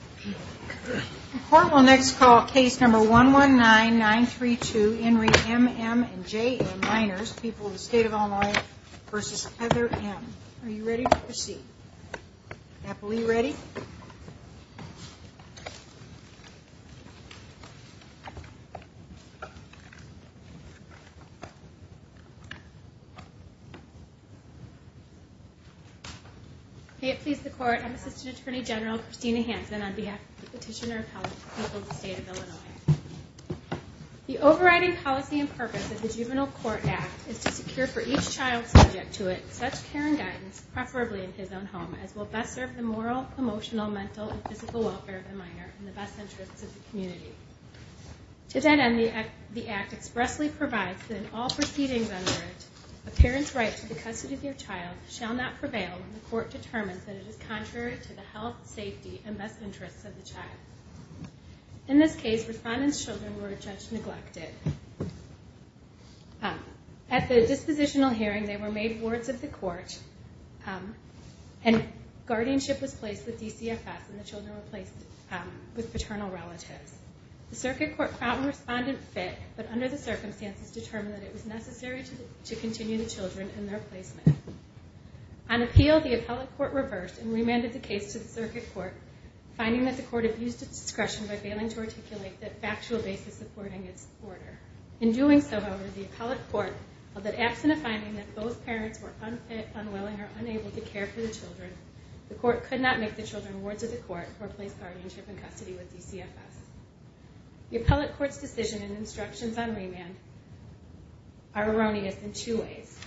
and J.M., minors, people of the State of Illinois, versus Heather M. Are you ready to proceed? On behalf of the Petitioner of Health, people of the State of Illinois, the overriding policy and purpose of the Juvenile Court Act is to secure for each child subject to it such care and guidance, preferably in his own home, as will best serve the moral, emotional, mental, and physical welfare of the minor and the best interests of the community. To that end, the Act expressly provides that in all proceedings under it, a parent's right to the custody of their child shall not prevail when the court determines that it is contrary to the health, safety, and best interests of the child. In this case, Respondent's children were judged neglected. At the dispositional hearing, they were made wards of the court and guardianship was placed with DCFS and the children were placed with paternal relatives. The Circuit Court found Respondent fit, but under the circumstances determined that it was necessary to continue the children in their placement. On appeal, the appellate court reversed and remanded the case to the Circuit Court, finding that the court abused its discretion by failing to articulate the factual basis supporting its order. In doing so, however, the appellate court held that absent a finding that both parents were unfit, unwilling, or unable to care for the children, the court could not make the children wards of the court or place guardianship in custody with DCFS. The appellate court's decision and instructions on remand are erroneous in two ways.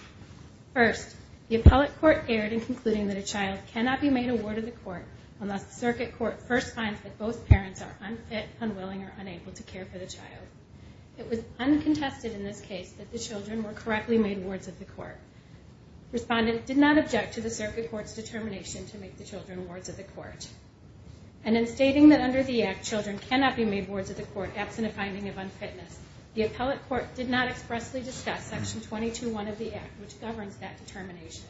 First, the appellate court erred in concluding that a child cannot be made a ward of the court unless the Circuit Court first finds that both parents are unfit, unwilling, or unable to care for the child. It was uncontested in this case that the children were correctly made wards of the court. Respondent did not object to the Circuit Court's determination to make the children wards of the court. And in stating that under the Act, children cannot be made wards of the court absent a finding of unfitness, the appellate court did not expressly discuss Section 221 of the Act, which governs that determination.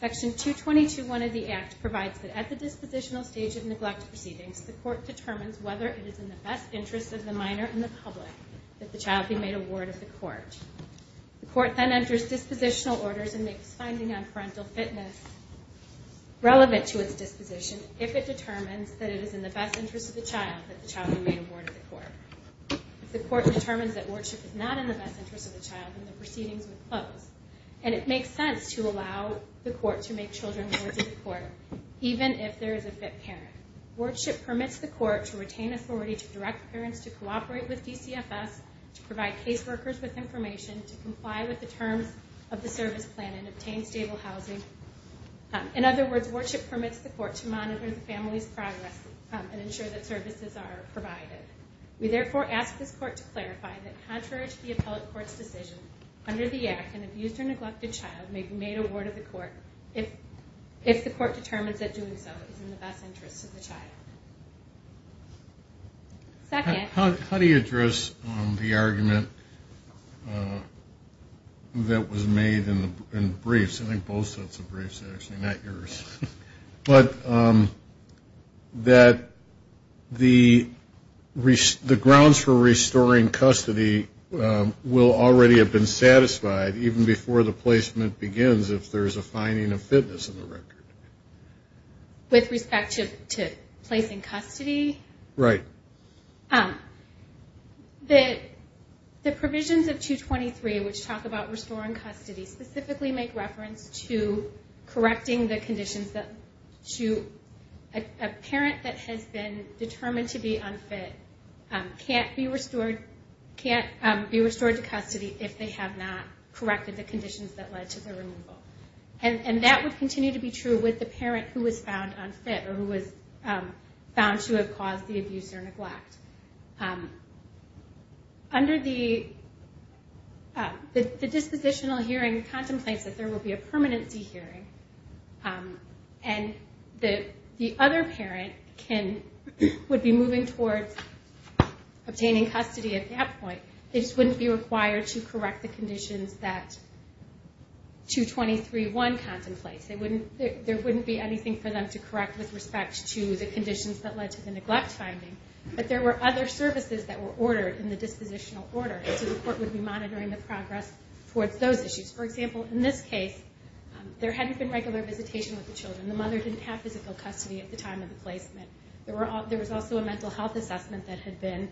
Section 221 of the Act provides that at the dispositional stage of neglect proceedings, the court determines whether it is in the best interest of the minor and the public that the child be made a ward of the court. The court then enters dispositional orders and makes finding on parental fitness relevant to its disposition if it determines that it is in the best interest of the child that the child be made a ward of the court. If the court determines that wardship is not in the best interest of the child, then the proceedings would close. And it makes sense to allow the court to make children wards of the court, even if there is a fit parent. Wardship permits the court to retain authority to direct parents to cooperate with DCFS, to provide caseworkers with information, to comply with the terms of the service plan and obtain stable housing. In other words, wardship permits the court to monitor the family's progress and ensure that services are provided. We therefore ask this court to clarify that contrary to the appellate court's decision, under the Act, an abused or neglected child may be made a ward of the court if the court determines that doing so is in the best interest of the child. How do you address the argument that was made in the briefs, I think both sets of briefs actually, not yours, but that the grounds for restoring custody will already have been satisfied even before the placement begins if there is a finding of fitness in the record? With respect to placing custody? Right. The provisions of 223, which talk about restoring custody, specifically make reference to correcting the conditions that a parent that has been determined to be unfit can't be restored to custody if they have not corrected the conditions that led to the removal. And that would continue to be true with the parent who was found unfit or who was found to have caused the abuse or neglect. Under the dispositional hearing contemplates that there will be a permanency hearing and the other parent would be moving towards obtaining custody at that point. They just wouldn't be required to correct the conditions that 223.1 contemplates. There wouldn't be anything for them to correct with respect to the conditions that led to the neglect finding, but there were other services that were ordered in the dispositional order. So the court would be monitoring the progress towards those issues. For example, in this case, there hadn't been regular visitation with the children. The mother didn't have physical custody at the time of the placement. There was also a mental health assessment that had been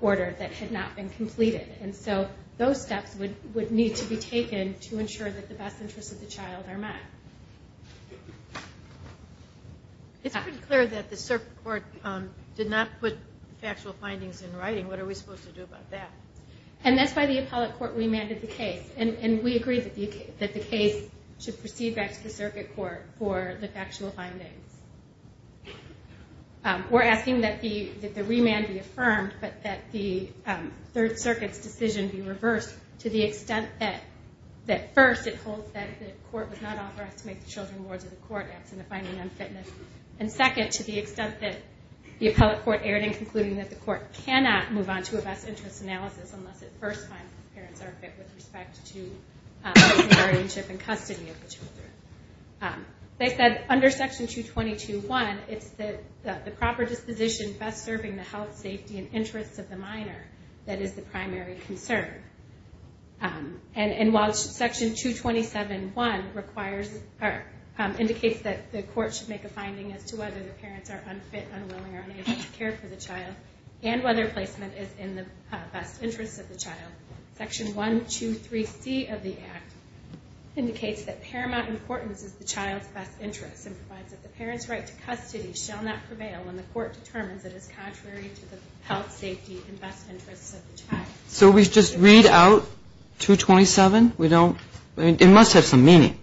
ordered that had not been completed. And so those steps would need to be taken to ensure that the best interests of the child are met. It's pretty clear that the circuit court did not put factual findings in writing. What are we supposed to do about that? And that's why the appellate court remanded the case. And we agreed that the case should proceed back to the circuit court for the factual findings. We're asking that the remand be affirmed, but that the Third Circuit's decision be reversed to the extent that, first, it holds that the court was not authorized to make the children wards of the court absent of finding unfitness. And second, to the extent that the appellate court erred in concluding that the court cannot move on to a best interests analysis unless at first time the parents are fit with respect to guardianship and custody of the children. They said under Section 222.1, it's the proper disposition best serving the health, safety, and interests of the minor that is the primary concern. And while Section 227.1 indicates that the court should make a finding as to whether the parents are unfit, unwilling, or unable to care for the child, and whether placement is in the best interests of the child, Section 123C of the Act indicates that paramount importance is the child's best interests and provides that the parent's right to custody shall not prevail when the court determines it is contrary to the health, safety, and best interests of the child. So we just read out 227? It must have some meaning.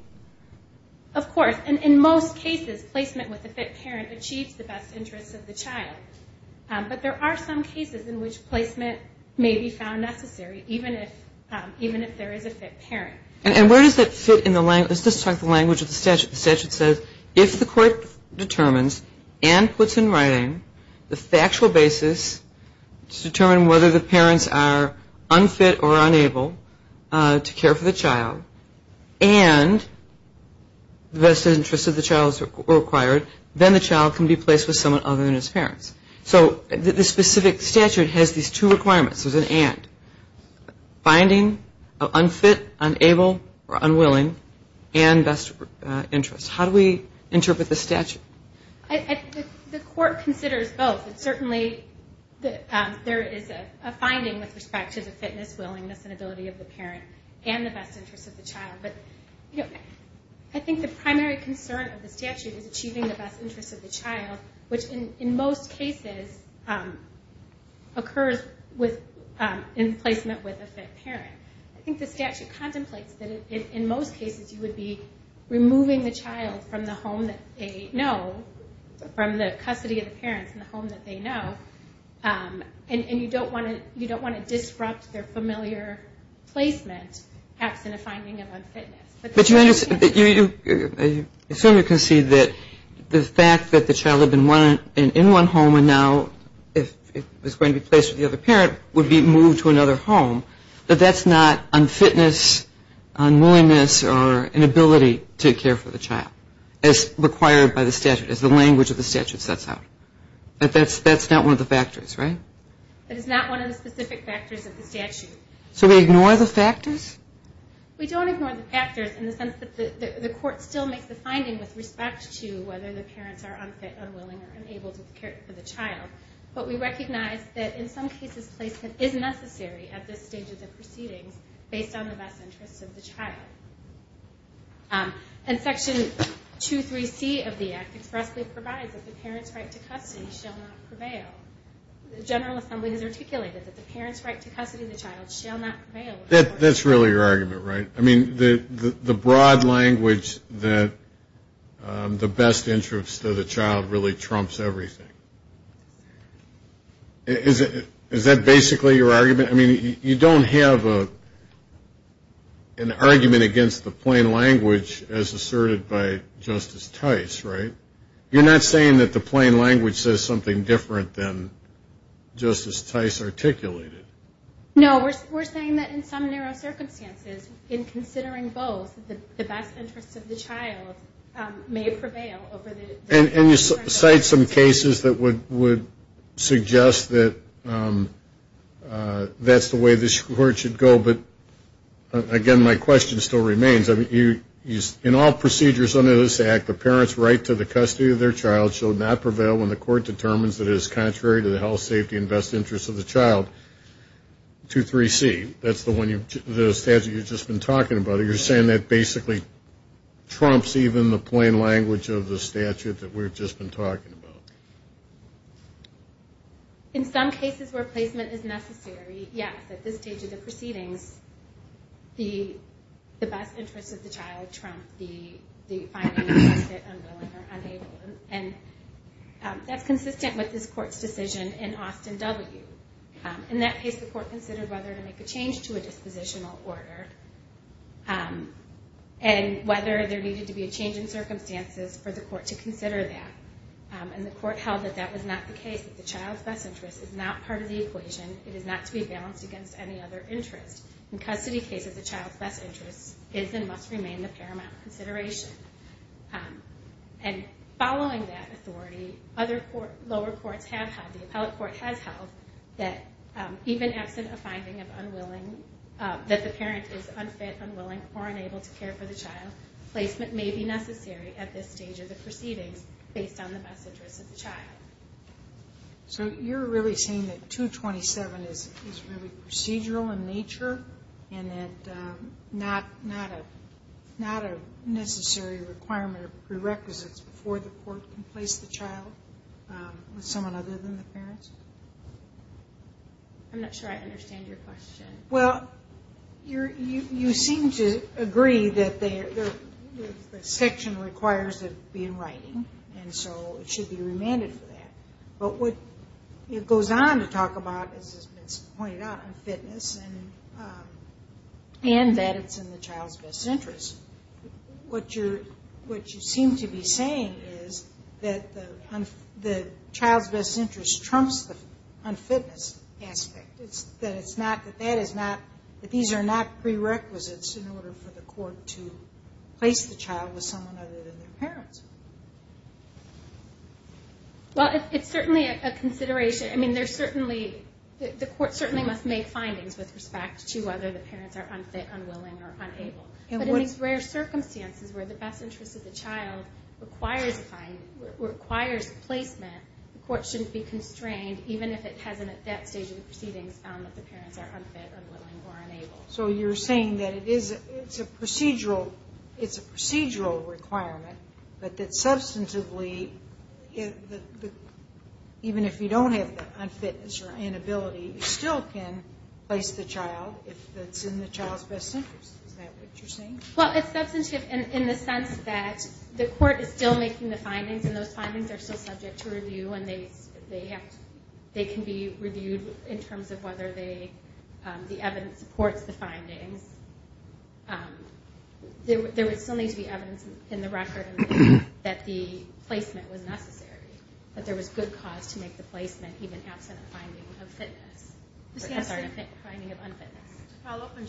Of course. And in most cases, placement with a fit parent achieves the best interests of the child. But there are some cases in which placement may be found necessary even if there is a fit parent. And where does that fit in the language of the statute? The statute says if the court determines and puts in writing the factual basis to determine whether the parents are unfit or unable to care for the child and the best interests of the child are required, then the child can be placed with someone other than his parents. So the specific statute has these two requirements. There's an and. Finding unfit, unable, or unwilling, and best interests. How do we interpret the statute? The court considers both. Certainly there is a finding with respect to the fitness, willingness, and ability of the parent, and the best interests of the child. I think the primary concern of the statute is achieving the best interests of the child, which in most cases occurs in placement with a fit parent. I think the statute contemplates that in most cases you would be removing the child from the home that they know, from the custody of the parents in the home that they know, and you don't want to disrupt their familiar placement, perhaps in a finding of unfitness. But you understand that you assume you can see that the fact that the child had been in one home and now it was going to be placed with the other parent would be moved to another home, but that's not unfitness, unwillingness, or inability to care for the child, as required by the statute, as the language of the statute sets out. But that's not one of the factors, right? That is not one of the specific factors of the statute. So we ignore the factors? We don't ignore the factors in the sense that the court still makes the finding with respect to whether the parents are unfit, unwilling, or unable to care for the child, but we recognize that in some cases placement is necessary at this stage of the proceedings based on the best interests of the child. And Section 23C of the Act expressly provides that the parents' right to custody shall not prevail. The General Assembly has articulated that the parents' right to custody of the child shall not prevail. That's really your argument, right? I mean, the broad language that the best interests of the child really trumps everything. Is that basically your argument? I mean, you don't have an argument against the plain language as asserted by Justice Tice, right? You're not saying that the plain language says something different than Justice Tice articulated? No. We're saying that in some narrow circumstances, in considering both, the best interests of the child may prevail over the best interests of the child. And you cite some cases that would suggest that that's the way the court should go, but again, my question still remains. In all procedures under this Act, the parents' right to the custody of their child shall not prevail when the court determines that it is contrary to the health, safety, and best interests of the child. 23C, that's the statute you've just been talking about. So you're saying that basically trumps even the plain language of the statute that we've just been talking about. In some cases where placement is necessary, yes, at this stage of the proceedings, the best interests of the child trump the finding that the child is unwilling or unable. And that's consistent with this Court's decision in Austin W. In that case, the court considered whether to make a change to a dispositional order and whether there needed to be a change in circumstances for the court to consider that. And the court held that that was not the case, that the child's best interest is not part of the equation. It is not to be balanced against any other interest. In custody cases, the child's best interest is and must remain the paramount consideration. And following that authority, other lower courts have held, the appellate court has held, that even absent a finding that the parent is unfit, unwilling, or unable to care for the child, placement may be necessary at this stage of the proceedings based on the best interests of the child. So you're really saying that 227 is really procedural in nature and that not a necessary requirement or prerequisite for the court to place the child with someone other than the parents? I'm not sure I understand your question. Well, you seem to agree that the section requires it to be in writing, and so it should be remanded for that. But what it goes on to talk about, as has been pointed out, unfitness, and that it's in the child's best interest. What you seem to be saying is that the child's best interest trumps the unfitness aspect, that these are not prerequisites in order for the court to place the child with someone other than the parents. Well, it's certainly a consideration. I mean, the court certainly must make findings with respect to whether the parents are unfit, unwilling, or unable. But in these rare circumstances where the best interests of the child requires placement, the court shouldn't be constrained even if it hasn't at that stage of the proceedings found that the parents are unfit, unwilling, or unable. So you're saying that it's a procedural requirement, but that substantively, even if you don't have the unfitness or inability, you still can place the child if it's in the child's best interest. Is that what you're saying? Well, it's substantive in the sense that the court is still making the findings, and those findings are still subject to review, and they can be reviewed in terms of whether the evidence supports the findings. There would still need to be evidence in the record that the placement was necessary, that there was good cause to make the placement even absent a finding of unfitness. To follow up on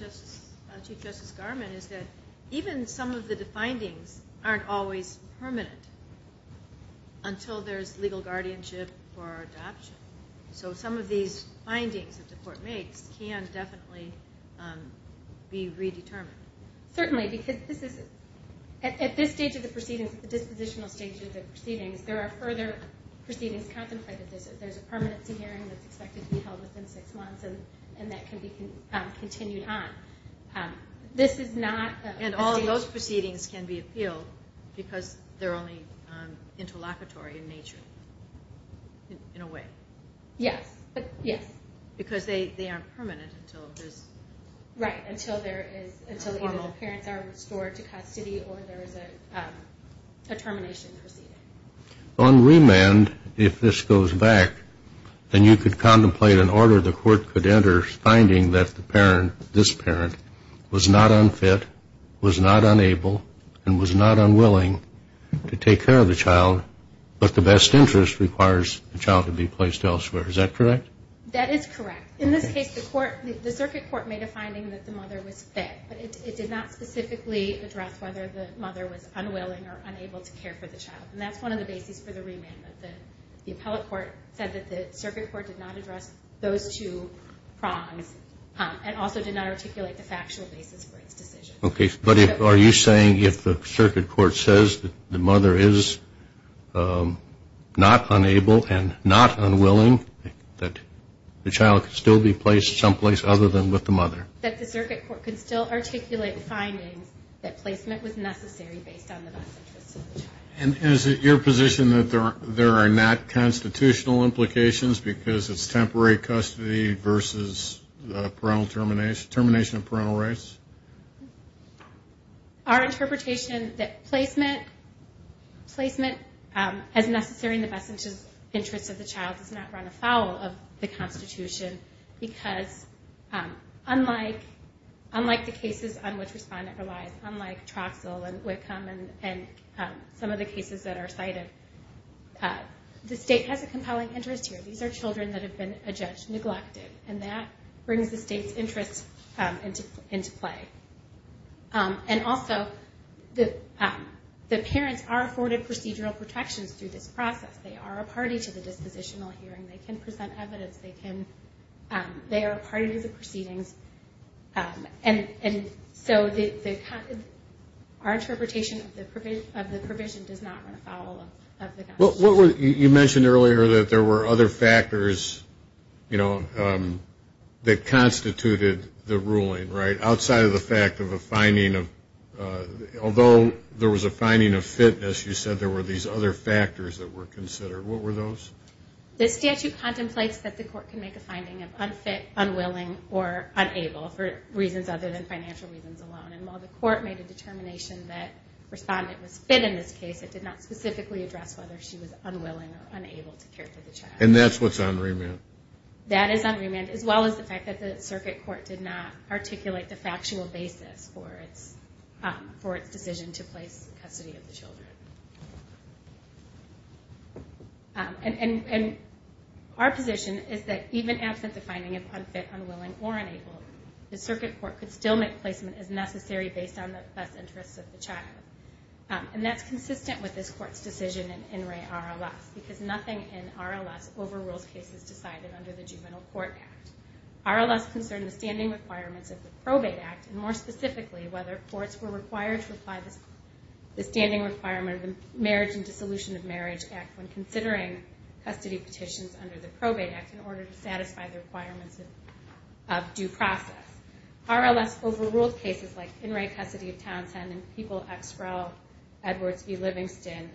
Chief Justice Garment is that even some of the findings aren't always permanent. Until there's legal guardianship for adoption. So some of these findings that the court makes can definitely be redetermined. Certainly, because at this stage of the proceedings, at the dispositional stage of the proceedings, there are further proceedings contemplated. There's a permanency hearing that's expected to be held within six months, and that can be continued on. And all of those proceedings can be appealed because they're only interlocutory in nature, in a way. Yes. Because they aren't permanent until there's... Right, until either the parents are restored to custody or there is a termination proceeding. On remand, if this goes back, then you could contemplate an order the court could enter finding that the parent, this parent, was not unfit, was not unable, and was not unwilling to take care of the child, but the best interest requires the child to be placed elsewhere. Is that correct? That is correct. In this case, the circuit court made a finding that the mother was fit, but it did not specifically address whether the mother was unwilling or unable to care for the child. And that's one of the bases for the remand. The appellate court said that the circuit court did not address those two prongs and also did not articulate the factual basis for its decision. Okay. But are you saying if the circuit court says that the mother is not unable and not unwilling, that the child could still be placed someplace other than with the mother? That the circuit court could still articulate the findings that placement was necessary based on the best interest of the child. And is it your position that there are not constitutional implications because it's temporary custody versus termination of parental rights? Our interpretation that placement as necessary in the best interest of the child does not run afoul of the Constitution because unlike the cases on which respondent relies, unlike Troxell and Wickham and some of the cases that are cited, the state has a compelling interest here. These are children that have been adjudged neglected, and that brings the state's interest into play. And also, the parents are afforded procedural protections through this process. They are a party to the dispositional hearing. They can present evidence. They are a party to the proceedings. And so our interpretation of the provision does not run afoul of the Constitution. You mentioned earlier that there were other factors that constituted the ruling, right, outside of the fact of a finding of – although there was a finding of fitness, you said there were these other factors that were considered. What were those? This statute contemplates that the court can make a finding of unfit, unwilling, or unable for reasons other than financial reasons alone. And while the court made a determination that respondent was fit in this case, it did not specifically address whether she was unwilling or unable to care for the child. And that's what's on remand? That is on remand, as well as the fact that the circuit court did not articulate the factual basis for its decision to place custody of the children. And our position is that even absent the finding of unfit, unwilling, or unable, the circuit court could still make placement as necessary based on the best interests of the child. And that's consistent with this court's decision in In Re RLS, because nothing in RLS overrules cases decided under the Juvenile Court Act. RLS concerned the standing requirements of the Probate Act, and more specifically whether courts were required to apply the standing requirement of the Marriage and Dissolution of Marriage Act when considering custody petitions under the Probate Act in order to satisfy the requirements of due process. RLS overruled cases like In Re Custody of Townsend and People X Rel Edwards v. Livingston,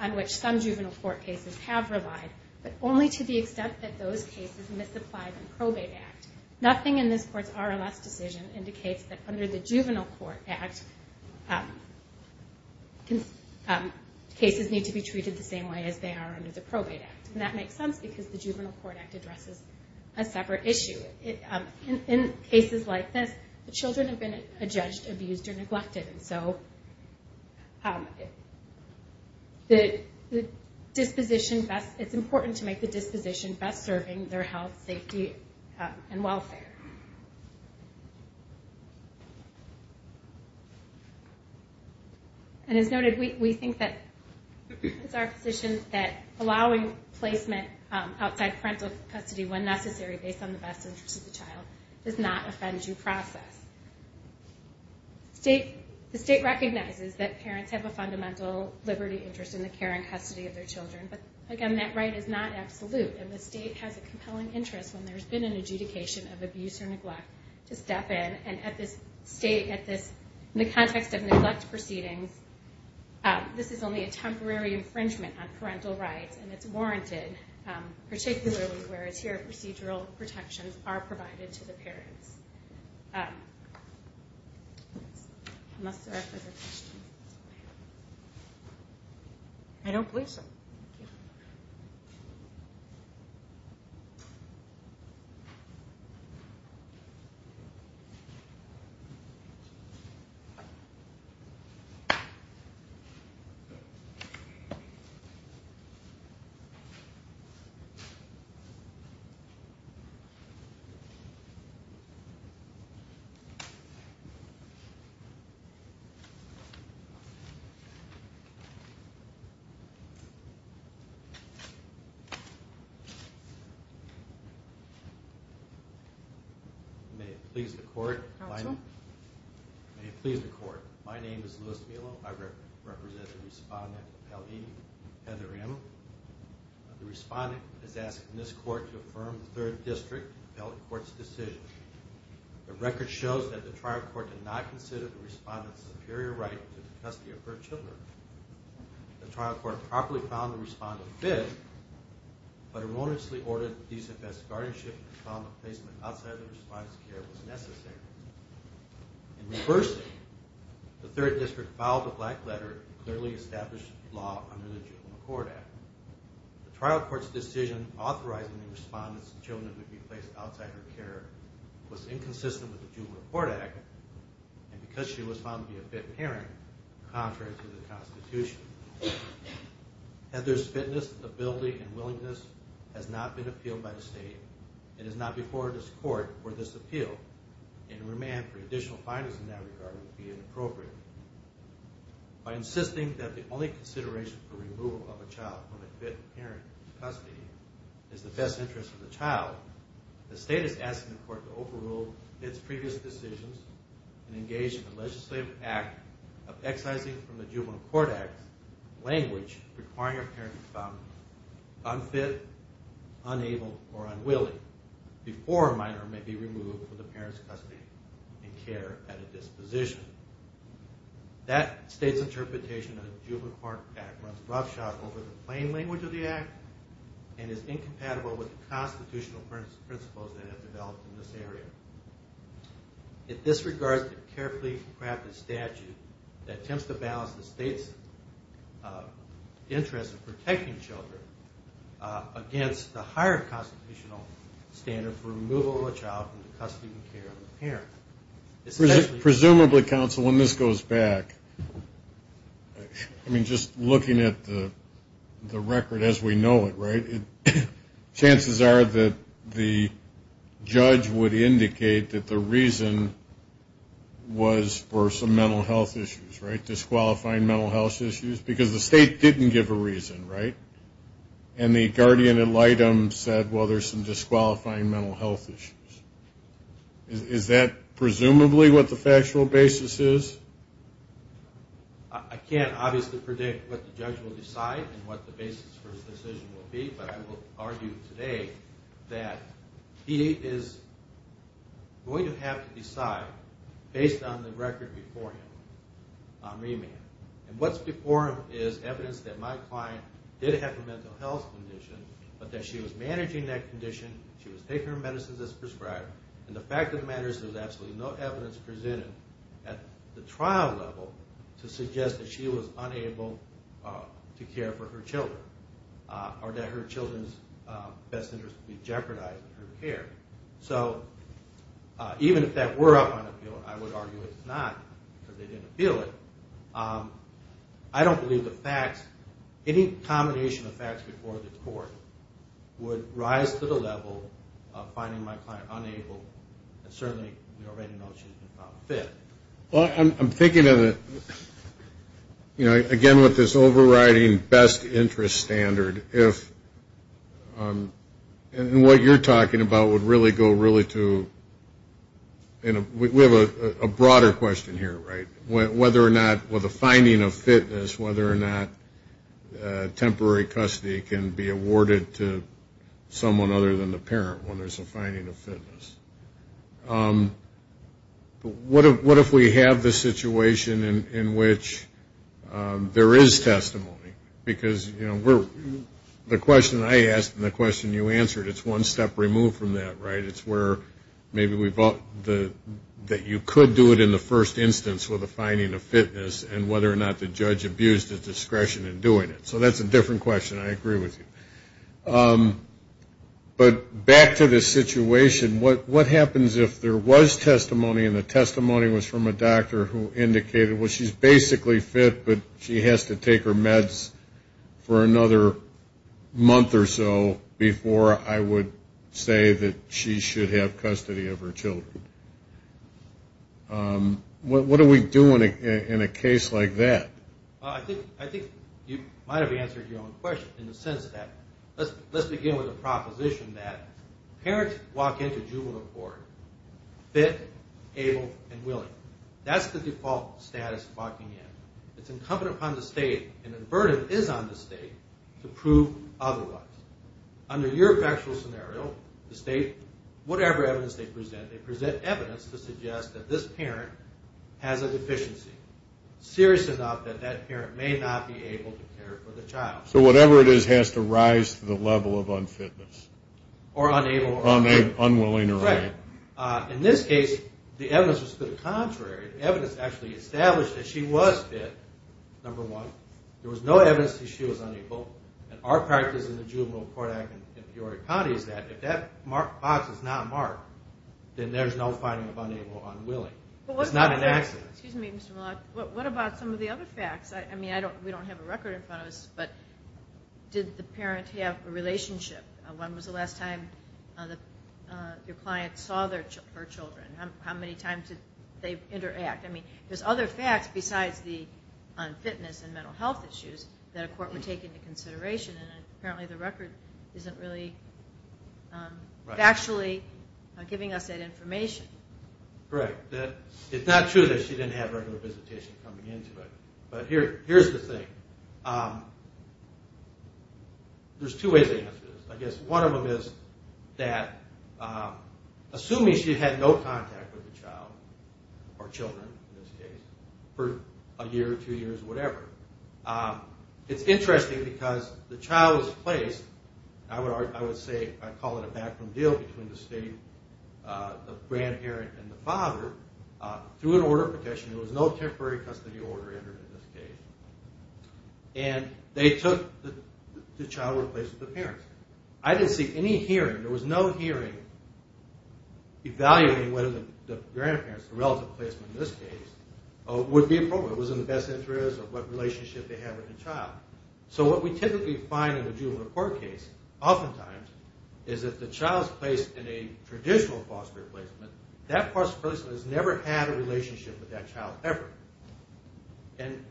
on which some juvenile court cases have relied, but only to the extent that those cases misapplied the Probate Act. Nothing in this court's RLS decision indicates that under the Juvenile Court Act, cases need to be treated the same way as they are under the Probate Act. And that makes sense because the Juvenile Court Act addresses a separate issue. In cases like this, the children have been judged, abused, or neglected, and so it's important to make the disposition best serving their health, safety, and welfare. And as noted, we think that it's our position that allowing placement outside parental custody when necessary based on the best interests of the child does not offend due process. The state recognizes that parents have a fundamental liberty interest in the care and custody of their children, but again, that right is not absolute, and the state has a compelling interest when there's been an adjudication of abuse or neglect to step in. And at this state, in the context of neglect proceedings, this is only a temporary infringement on parental rights, and it's warranted particularly where a tier of procedural protections are provided to the parents. Unless there are further questions. I don't believe so. May it please the court. May it please the court. My name is Louis Melo. I represent the respondent, L.E. Heather M. The respondent is asking this court to affirm the third district appellate court's decision. The record shows that the trial court did not consider the respondent's superior right to the custody of her children. The trial court properly found the respondent fit, but erroneously ordered a DSFS guardianship and found that placement outside the respondent's care was necessary. In reversing, the third district filed a black letter and clearly established the law under the Juvenile Court Act. The trial court's decision authorizing the respondent's children to be placed outside her care was inconsistent with the Juvenile Court Act and because she was found to be a fit parent, contrary to the Constitution. Heather's fitness, ability, and willingness has not been appealed by the state and is not before this court for this appeal, and a remand for additional findings in that regard would be inappropriate. By insisting that the only consideration for removal of a child from a fit parent's custody is the best interest of the child, the state is asking the court to overrule its previous decisions and engage in a legislative act of excising from the Juvenile Court Act language requiring a parent to be found unfit, unable, or unwilling before a minor may be removed from the parent's custody and care at a disposition. That state's interpretation of the Juvenile Court Act runs roughshod over the plain language of the act and is incompatible with the constitutional principles that have developed in this area. It disregards the carefully crafted statute that attempts to balance the state's interest in protecting children against the higher constitutional standard for removal of a child from the custody and care of a parent. Presumably, counsel, when this goes back, I mean, just looking at the record as we know it, right, chances are that the judge would indicate that the reason was for some mental health issues, right, disqualifying mental health issues, because the state didn't give a reason, right, and the guardian ad litem said, well, there's some disqualifying mental health issues. Is that presumably what the factual basis is? I can't obviously predict what the judge will decide and what the basis for his decision will be, but I will argue today that he is going to have to decide based on the record before him on remand. And what's before him is evidence that my client did have a mental health condition, but that she was managing that condition, she was taking her medicines as prescribed, and the fact of the matter is there was absolutely no evidence presented at the trial level to suggest that she was unable to care for her children or that her children's best interest would be jeopardized in her care. So even if that were up on appeal, I would argue it's not because they didn't appeal it. I don't believe the facts, any combination of facts before the court would rise to the level of finding my client unable and certainly we already know she's been found fit. Well, I'm thinking of it, you know, again with this overriding best interest standard, and what you're talking about would really go really to, we have a broader question here, right, whether or not with a finding of fitness, whether or not temporary custody can be awarded to someone other than the parent when there's a finding of fitness. What if we have the situation in which there is testimony? Because, you know, the question I asked and the question you answered, it's one step removed from that, right? It's where maybe we thought that you could do it in the first instance with a finding of fitness and whether or not the judge abused his discretion in doing it. So that's a different question. I agree with you. But back to the situation, what happens if there was testimony and the testimony was from a doctor who indicated, well, she's basically fit but she has to take her meds for another month or so before I would say that she should have custody of her children? What do we do in a case like that? Well, I think you might have answered your own question in the sense that let's begin with a proposition that parents walk into juvenile court fit, able, and willing. That's the default status of walking in. It's incumbent upon the state and the burden is on the state to prove otherwise. Under your factual scenario, the state, whatever evidence they present, they present evidence to suggest that this parent has a deficiency, serious enough that that parent may not be able to care for the child. So whatever it is has to rise to the level of unfitness. Or unable or unable. Unwilling or unable. Right. In this case, the evidence was to the contrary. The evidence actually established that she was fit, number one. There was no evidence that she was unable. And our practice in the Juvenile Court Act in Peoria County is that if that box is not marked, then there's no finding of unable or unwilling. It's not an accident. Excuse me, Mr. Mullock. What about some of the other facts? I mean, we don't have a record in front of us, but did the parent have a relationship? When was the last time your client saw her children? How many times did they interact? I mean, there's other facts besides the unfitness and mental health issues that a court would take into consideration, and apparently the record isn't really factually giving us that information. Correct. It's not true that she didn't have regular visitation coming into it. But here's the thing. There's two ways to answer this. I guess one of them is that assuming she had no contact with the child or children in this case for a year, two years, whatever, it's interesting because the child was placed, and I would call it a backroom deal between the state, the grandparent, and the father, through an order of protection. There was no temporary custody order entered in this case. And they took the child and replaced it with the parents. I didn't see any hearing. There was no hearing evaluating whether the grandparents, the relative placement in this case, would be appropriate. It was in the best interest of what relationship they had with the child. So what we typically find in the juvenile court case oftentimes is that the child's placed in a traditional foster replacement. That foster person has never had a relationship with that child ever. And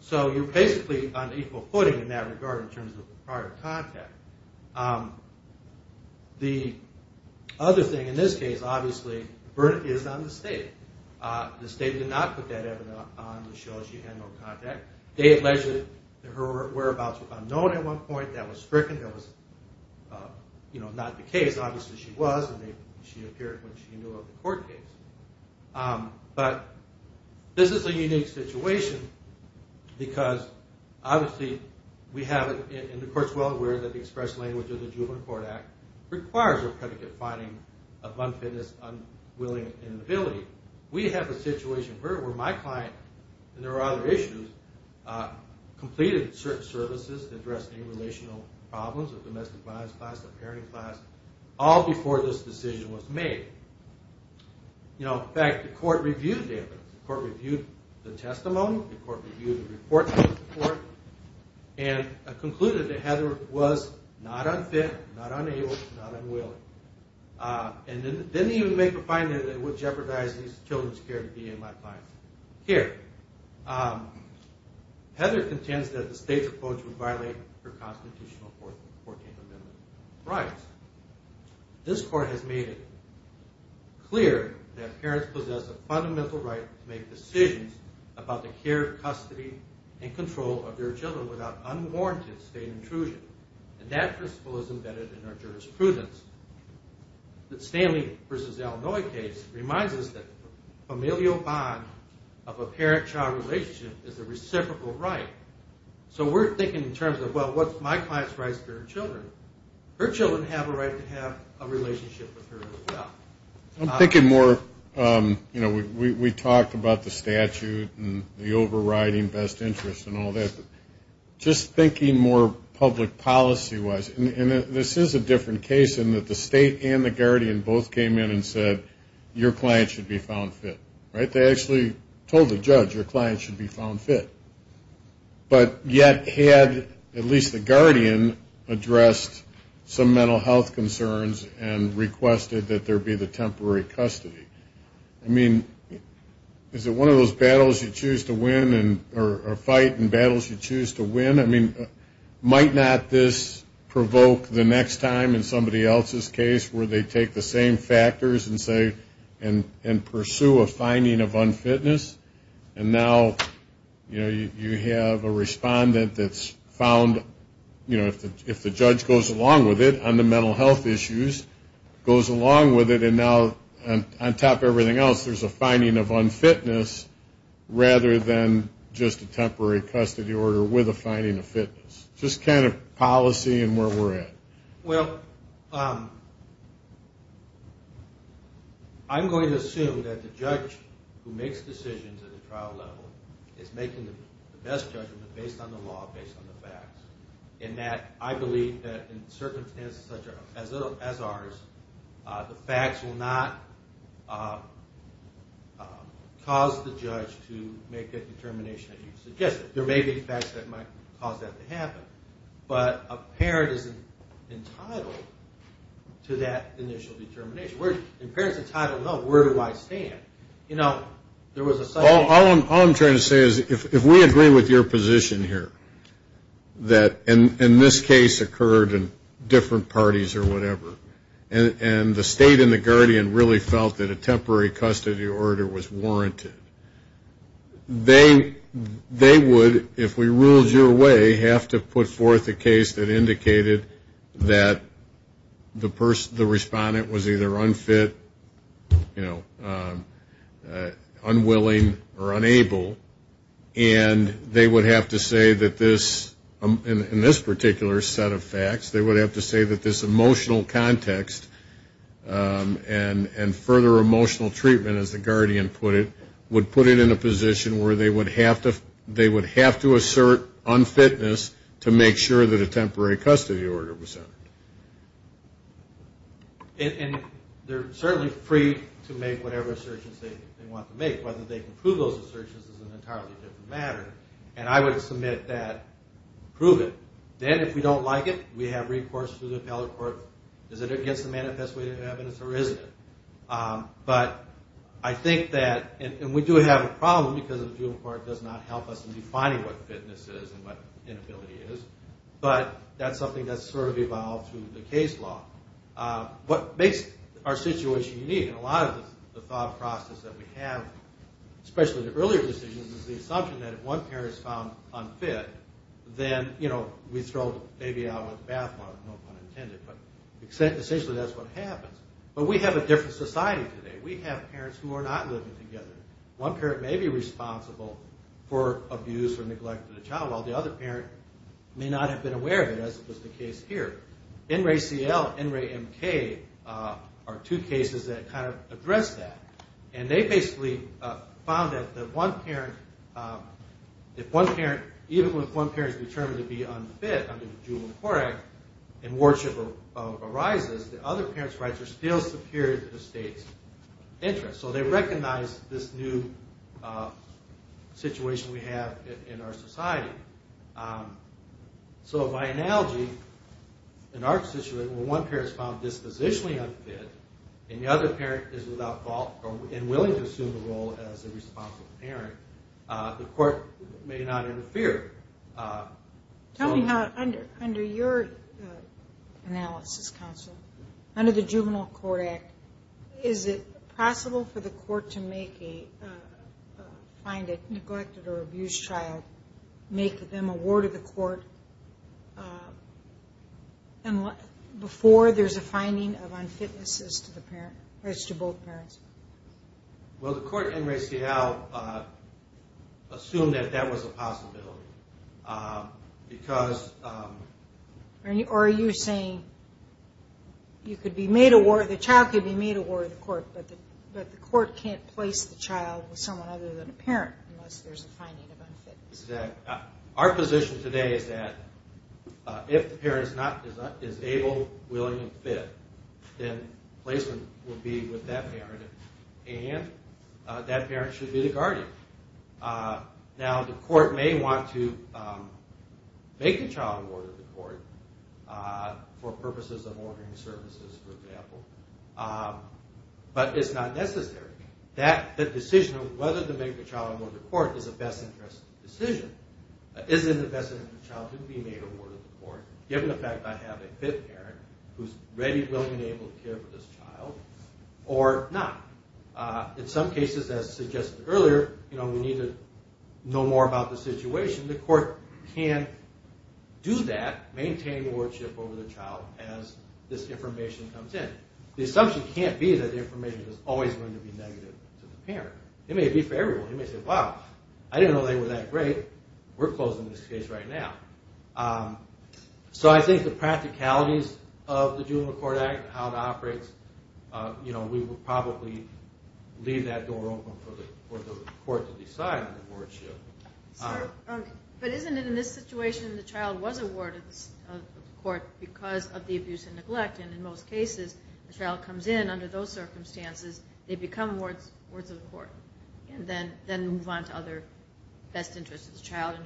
so you're basically on equal footing in that regard in terms of prior contact. The other thing in this case, obviously, is on the state. The state did not put that evidence on to show she had no contact. They alleged that her whereabouts were unknown at one point. That was stricken. That was not the case. Obviously, she was, and she appeared when she knew of the court case. But this is a unique situation because, obviously, we have, and the court's well aware that the express language of the Juvenile Court Act requires a predicate finding of unfitness, unwilling, inability. We have a situation where my client, and there are other issues, completed certain services addressing relational problems, a domestic violence class, a parenting class, all before this decision was made. In fact, the court reviewed the evidence. The court reviewed the testimony. The court reviewed the report to the court and concluded that Heather was not unfit, not unable, not unwilling, and didn't even make a finding that it would jeopardize these children's care to be in my client's care. Heather contends that the state's approach would violate her constitutional 14th Amendment rights. This court has made it clear that parents possess a fundamental right to make decisions about the care, custody, and control of their children without unwarranted state intrusion, and that principle is embedded in our jurisprudence. The Stanley v. Illinois case reminds us that familial bond of a parent-child relationship is a reciprocal right. So we're thinking in terms of, well, what's my client's rights to her children? Her children have a right to have a relationship with her as well. I'm thinking more, you know, we talked about the statute and the overriding best interest and all that. Just thinking more public policy-wise, and this is a different case in that the state and the guardian both came in and said, your client should be found fit, right? But they actually told the judge, your client should be found fit. But yet had at least the guardian addressed some mental health concerns and requested that there be the temporary custody. I mean, is it one of those battles you choose to win or fight and battles you choose to win? I mean, might not this provoke the next time in somebody else's case where they take the same factors and say and pursue a finding of unfitness and now, you know, you have a respondent that's found, you know, if the judge goes along with it on the mental health issues, goes along with it and now on top of everything else there's a finding of unfitness rather than just a temporary custody order with a finding of fitness. Just kind of policy and where we're at. Well, I'm going to assume that the judge who makes decisions at the trial level is making the best judgment based on the law, based on the facts, in that I believe that in circumstances such as ours, the facts will not cause the judge to make that determination that you've suggested. There may be facts that might cause that to happen, but a parent isn't entitled to that initial determination. If a parent's entitled, no, where do I stand? You know, there was a sudden... All I'm trying to say is if we agree with your position here that in this case occurred in different parties or whatever and the state and the guardian really felt that a temporary custody order was warranted, they would, if we ruled your way, have to put forth a case that indicated that the respondent was either unfit, you know, unwilling or unable and they would have to say that this, in this particular set of facts, they would have to say that this emotional context and further emotional treatment, as the guardian put it, would put it in a position where they would have to assert unfitness to make sure that a temporary custody order was sent. And they're certainly free to make whatever assertions they want to make. Whether they can prove those assertions is an entirely different matter, and I would submit that, prove it. Then, if we don't like it, we have recourse to the appellate court. Is it against the manifest way of evidence or isn't it? But I think that, and we do have a problem because the juvenile court does not help us in defining what fitness is and what inability is, but that's something that's sort of evolved through the case law. What makes our situation unique, and a lot of the thought process that we have, especially the earlier decisions, is the assumption that if one parent is found unfit, then, you know, we throw the baby out with the bathwater, no pun intended, but essentially that's what happens. But we have a different society today. We have parents who are not living together. One parent may be responsible for abuse or neglect of the child, while the other parent may not have been aware of it, as was the case here. NRACL, NRAMK are two cases that kind of address that. And they basically found that if one parent, even if one parent is determined to be unfit under the Juvenile Court Act and wardship arises, the other parent's rights are still superior to the state's interests. So they recognize this new situation we have in our society. So by analogy, in our situation, when one parent is found dispositionally unfit and the other parent is without fault and willing to assume the role as a responsible parent, the court may not interfere. Tell me how under your analysis, counsel, under the Juvenile Court Act, is it possible for the court to find a neglected or abused child, make them a ward of the court, before there's a finding of unfitness as to both parents? Well, the court at NRACL assumed that that was a possibility because... Or are you saying you could be made a ward, the child could be made a ward of the court, but the court can't place the child with someone other than a parent unless there's a finding of unfitness? Exactly. Our position today is that if the parent is able, willing, and fit, then placement would be with that parent, and that parent should be the guardian. Now, the court may want to make the child a ward of the court for purposes of ordering services, for example, but it's not necessary. The decision of whether to make the child a ward of the court is a best interest decision. Isn't it the best interest of the child to be made a ward of the court, given the fact that I have a fit parent who's ready, willing, and able to care for this child, or not? In some cases, as suggested earlier, we need to know more about the situation. The court can do that, maintain wardship over the child as this information comes in. The assumption can't be that the information is always going to be negative to the parent. It may be favorable. You may say, wow, I didn't know they were that great. We're closing this case right now. So I think the practicalities of the Juvenile Court Act and how it operates, we would probably leave that door open for the court to decide on the wardship. But isn't it in this situation the child was a ward of the court because of the abuse and neglect, and in most cases the child comes in under those circumstances, they become wards of the court, and then move on to other best interests of the child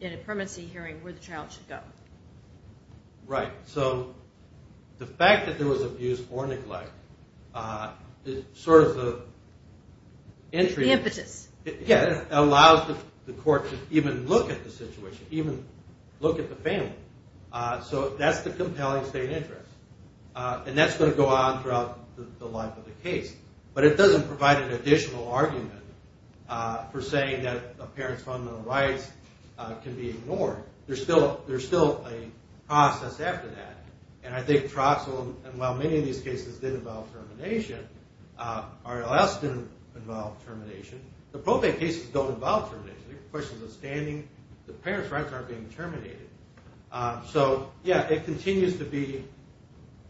in a permanency hearing where the child should go. Right. So the fact that there was abuse or neglect is sort of the entry. The impetus. Yeah, it allows the court to even look at the situation, even look at the family. So that's the compelling state interest. And that's going to go on throughout the life of the case. But it doesn't provide an additional argument for saying that a parent's fundamental rights can be ignored. There's still a process after that. And I think Troxell, and while many of these cases did involve termination, RLS didn't involve termination. The probate cases don't involve termination. They're questions of standing. The parents' rights aren't being terminated. So, yeah, it continues to be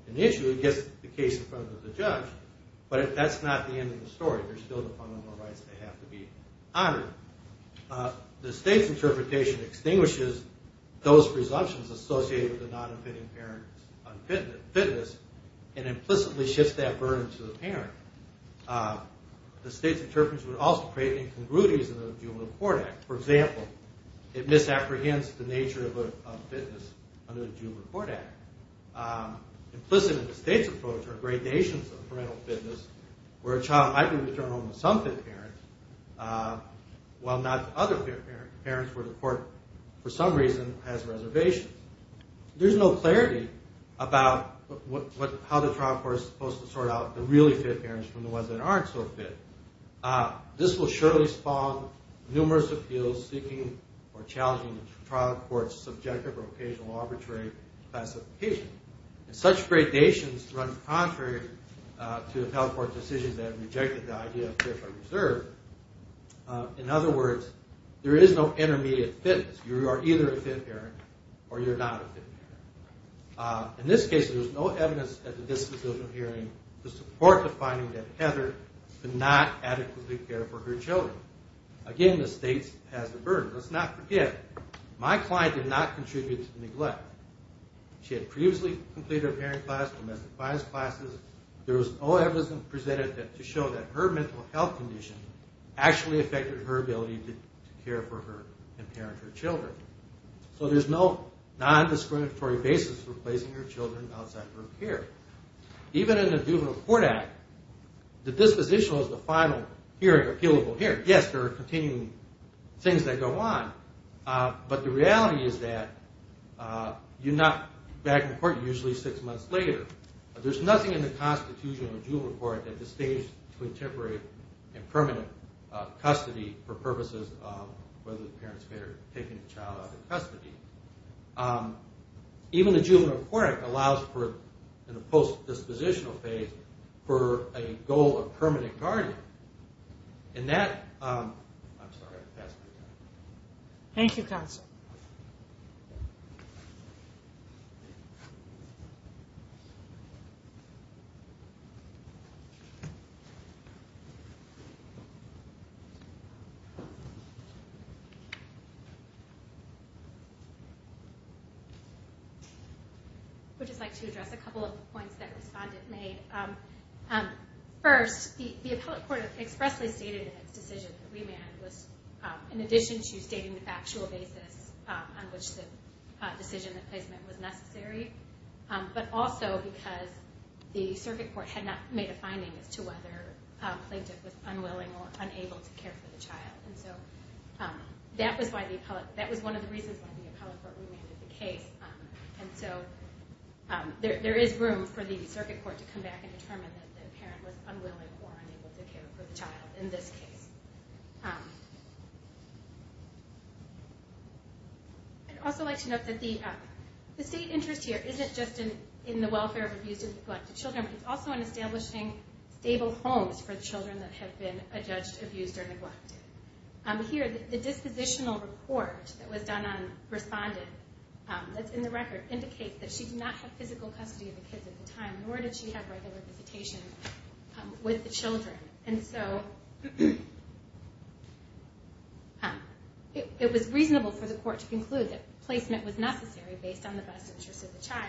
an issue. It gets the case in front of the judge, but that's not the end of the story. There's still the fundamental rights that have to be honored. The state's interpretation extinguishes those presumptions associated with a non-offending parent's fitness and implicitly shifts that burden to the parent. The state's interpretation would also create incongruities in the Juvenile Court Act. For example, it misapprehends the nature of fitness under the Juvenile Court Act. Implicit in the state's approach are gradations of parental fitness, where a child might be returned home to some fit parents, while not to other fit parents where the court, for some reason, has reservations. There's no clarity about how the trial court is supposed to sort out the really fit parents from the ones that aren't so fit. This will surely spawn numerous appeals seeking or challenging the trial court's subjective or occasional arbitrary classification. And such gradations run contrary to the federal court's decisions that have rejected the idea of fit or reserved. In other words, there is no intermediate fitness. You are either a fit parent or you're not a fit parent. In this case, there was no evidence at the dismissal hearing to support the finding that Heather did not adequately care for her children. Again, the state has the burden. Let's not forget, my client did not contribute to the neglect. She had previously completed her parent class, domestic violence classes. There was no evidence presented to show that her mental health condition actually affected her ability to care for her and parent her children. So there's no nondiscriminatory basis for placing her children outside her care. Even in the Juvenile Court Act, the dispositional is the final hearing or appealable hearing. Yes, there are continuing things that go on, but the reality is that you're not back in court usually six months later. There's nothing in the Constitution of the Juvenile Court that disdains contemporary and permanent custody for purposes of whether the parents may have taken the child out of custody. Even the Juvenile Court Act allows for, in the post-dispositional phase, for a goal of permanent guardian. And that... I'm sorry, I passed my time. Thank you, counsel. Thank you. I would just like to address a couple of points that the respondent made. First, the appellate court expressly stated in its decision that remand was, in addition to stating the factual basis on which the decision of placement was necessary, but also because the circuit court had not made a finding as to whether a plaintiff was unwilling or unable to care for the child. And so that was one of the reasons why the appellate court remanded the case. And so there is room for the circuit court to come back and determine that the parent was unwilling or unable to care for the child in this case. I'd also like to note that the state interest here isn't just in the welfare of abused and neglected children, but it's also in establishing stable homes for children that have been adjudged abused or neglected. Here, the dispositional report that was done on the respondent, that's in the record, indicates that she did not have physical custody of the kids at the time, nor did she have regular visitation with the children. And so it was reasonable for the court to conclude that placement was necessary based on the best interests of the child.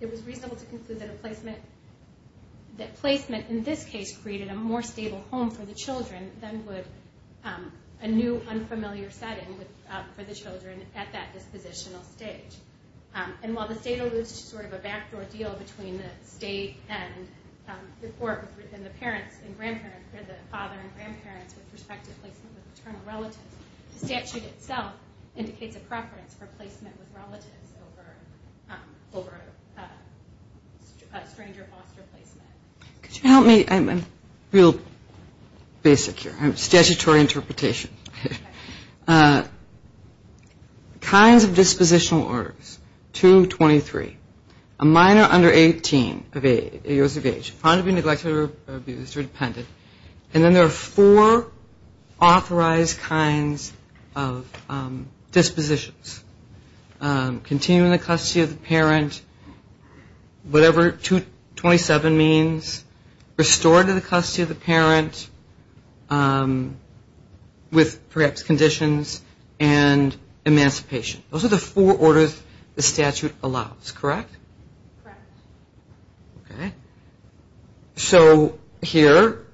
It was reasonable to conclude that placement in this case created a more stable home for the children than would a new unfamiliar setting for the children at that dispositional stage. And while the state alludes to sort of a backdoor deal between the state and the court within the parents and grandparents, or the father and grandparents with respect to placement with paternal relatives, the statute itself indicates a preference for placement with relatives over a stranger foster placement. Could you help me? I'm real basic here. I'm a statutory interpretation. Kinds of dispositional orders, 223. A minor under 18 of age, upon to be neglected or abused or depended. And then there are four authorized kinds of dispositions. Continuing the custody of the parent, whatever 227 means. Restored to the custody of the parent with perhaps conditions and emancipation. Those are the four orders the statute allows, correct? Correct. Okay. So here,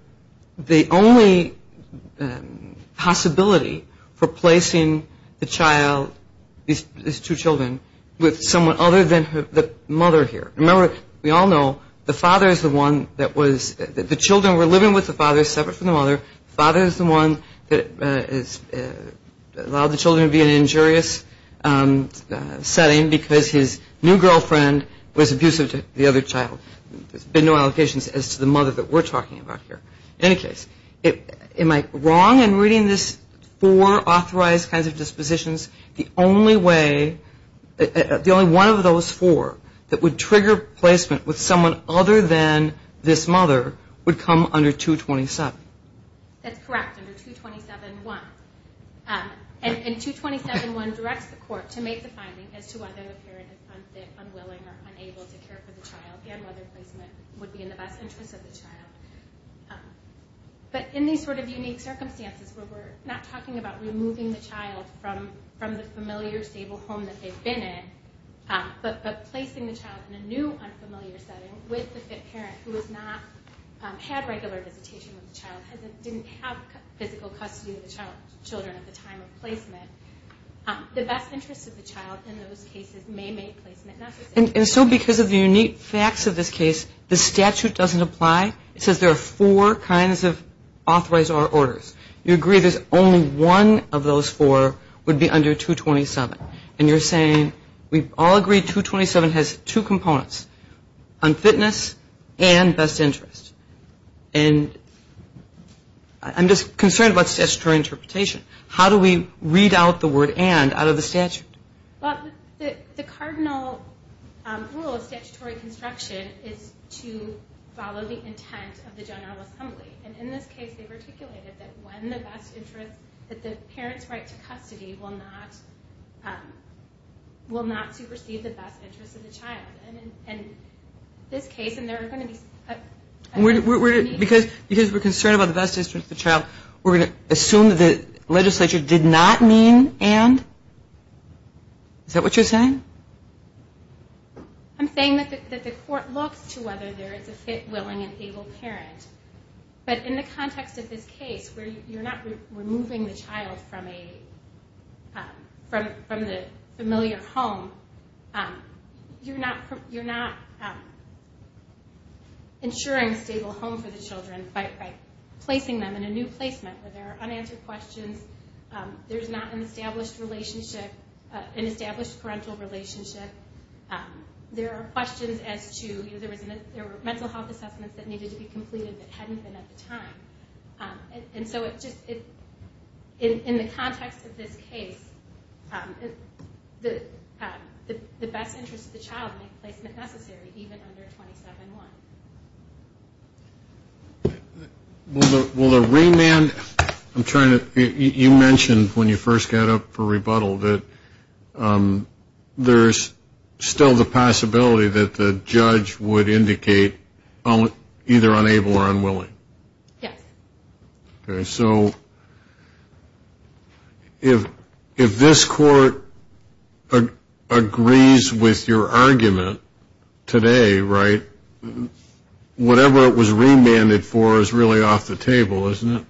the only possibility for placing the child, these two children, with someone other than the mother here. Remember, we all know the father is the one that was, the children were living with the father separate from the mother. Father is the one that allowed the children to be in an injurious setting because his new girlfriend was abusive to the other child. There's been no allocations as to the mother that we're talking about here. In any case, am I wrong in reading this four authorized kinds of dispositions? The only way, the only one of those four that would trigger placement with someone other than this mother would come under 227. That's correct, under 227.1. And 227.1 directs the court to make the finding as to whether the parent is unfit, unwilling or unable to care for the child. And whether placement would be in the best interest of the child. But in these sort of unique circumstances where we're not talking about removing the child from the familiar stable home that they've been in, but placing the child in a new unfamiliar setting with the fit parent who has not had regular visitation with the child, didn't have physical custody of the child, children at the time of placement, the best interest of the child in those cases may make placement necessary. And so because of the unique facts of this case, the statute doesn't apply. It says there are four kinds of authorize our orders. You agree there's only one of those four would be under 227. And you're saying we've all agreed 227 has two components, unfitness and best interest. And I'm just concerned about statutory interpretation. How do we read out the word and out of the statute? Well, the cardinal rule of statutory construction is to follow the intent of the general assembly. And in this case, they've articulated that when the best interest, that the parent's right to custody will not supersede the best interest of the child. And in this case, and there are going to be... Because we're concerned about the best interest of the child, we're going to assume that the legislature did not mean and? Is that what you're saying? I'm saying that the court looks to whether there is a fit, willing, and able parent. But in the context of this case, where you're not removing the child from the familiar home, you're not ensuring a stable home for the children by placing them in a new placement where there are unanswered questions. There's not an established parental relationship. There are questions as to... There were mental health assessments that needed to be completed that hadn't been at the time. And so it just... In the context of this case, the best interest of the child may be placed in the necessary, even under 27.1. Will the remand... I'm trying to... You mentioned when you first got up for rebuttal that there's still the possibility that the judge would indicate either unable or unwilling. Yes. So if this court agrees with your argument today, right, whatever it was remanded for is really off the table, isn't it?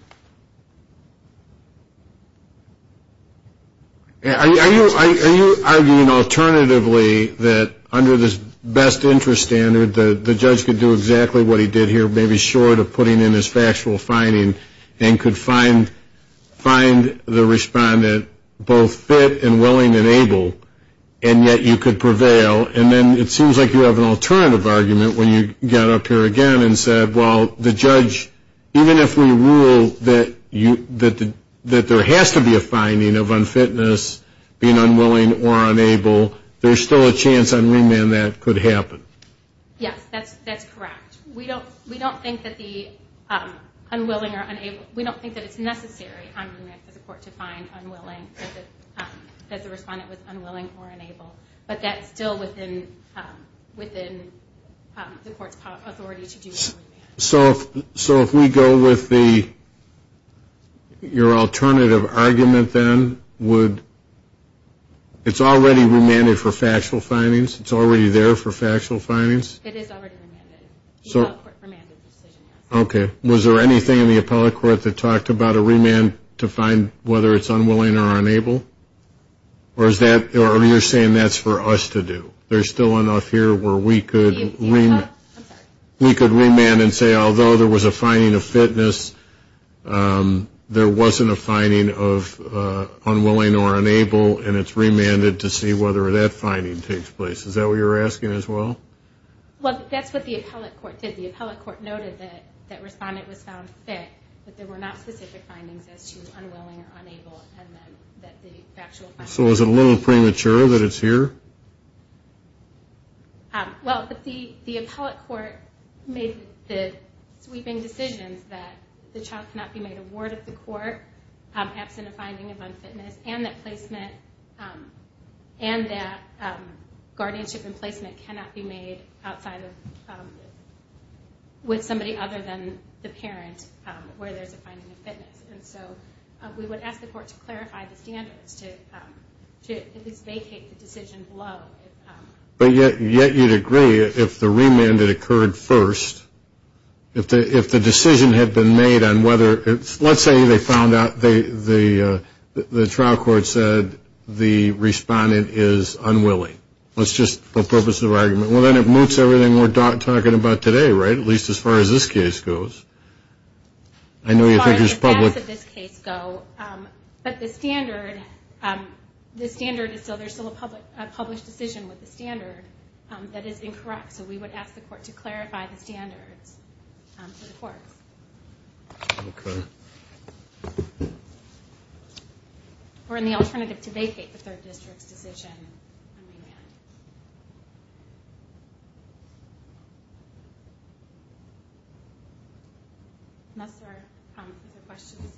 Are you arguing alternatively that under this best interest standard, the judge could do exactly what he did here, maybe short of putting in his factual finding, and could find the respondent both fit and willing and able, and yet you could prevail? And then it seems like you have an alternative argument when you got up here again and said, well, the judge, even if we rule that there has to be a finding of unfitness, being unwilling or unable, there's still a chance on remand that could happen. Yes, that's correct. We don't think that the unwilling or unable... We don't think that it's necessary on remand for the court to find unwilling, that the respondent was unwilling or unable, but that's still within the court's authority to do the remand. So if we go with your alternative argument then, it's already remanded for factual findings? It's already there for factual findings? It is already remanded. The appellate court remanded the decision, yes. Okay. Was there anything in the appellate court that talked about a remand to find whether it's unwilling or unable? Or you're saying that's for us to do? There's still enough here where we could... I'm sorry. We could remand and say, although there was a finding of fitness, there wasn't a finding of unwilling or unable, and it's remanded to see whether that finding takes place. Is that what you're asking as well? Well, that's what the appellate court did. The appellate court noted that that respondent was found fit, but there were not specific findings as to unwilling or unable and then that the factual findings... So is it a little premature that it's here? Well, the appellate court made the sweeping decisions that the child cannot be made a ward of the court absent a finding of unfitness, and that guardianship and placement cannot be made with somebody other than the parent where there's a finding of fitness. And so we would ask the court to clarify the standards to at least vacate the decision below. But yet you'd agree if the remand had occurred first, if the decision had been made on whether... Let's say they found out, the trial court said the respondent is unwilling. Let's just, for purposes of argument... Well, then it moots everything we're talking about today, right? At least as far as this case goes. As far as the facts of this case go, but the standard is still... There's still a published decision with the standard that is incorrect. So we would ask the court to clarify the standards for the courts. Okay. Or in the alternative, to vacate the third district's decision on remand. Unless there are other questions,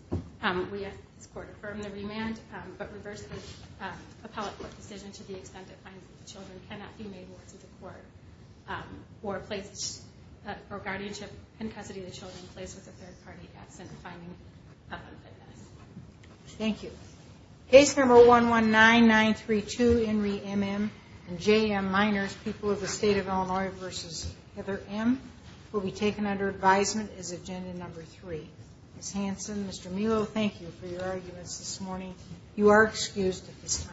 we ask the court to affirm the remand, but reverse the appellate court decision to the extent it finds that the children cannot be made wards of the court or guardianship in custody of the children placed with a third party absent a finding of unfitness. Thank you. Case number 119932, Inree M.M. and J.M. Miners, People of the State of Illinois v. Heather M. will be taken under advisement as agenda number three. Ms. Hanson, Mr. Melo, thank you for your arguments this morning. You are excused at this time.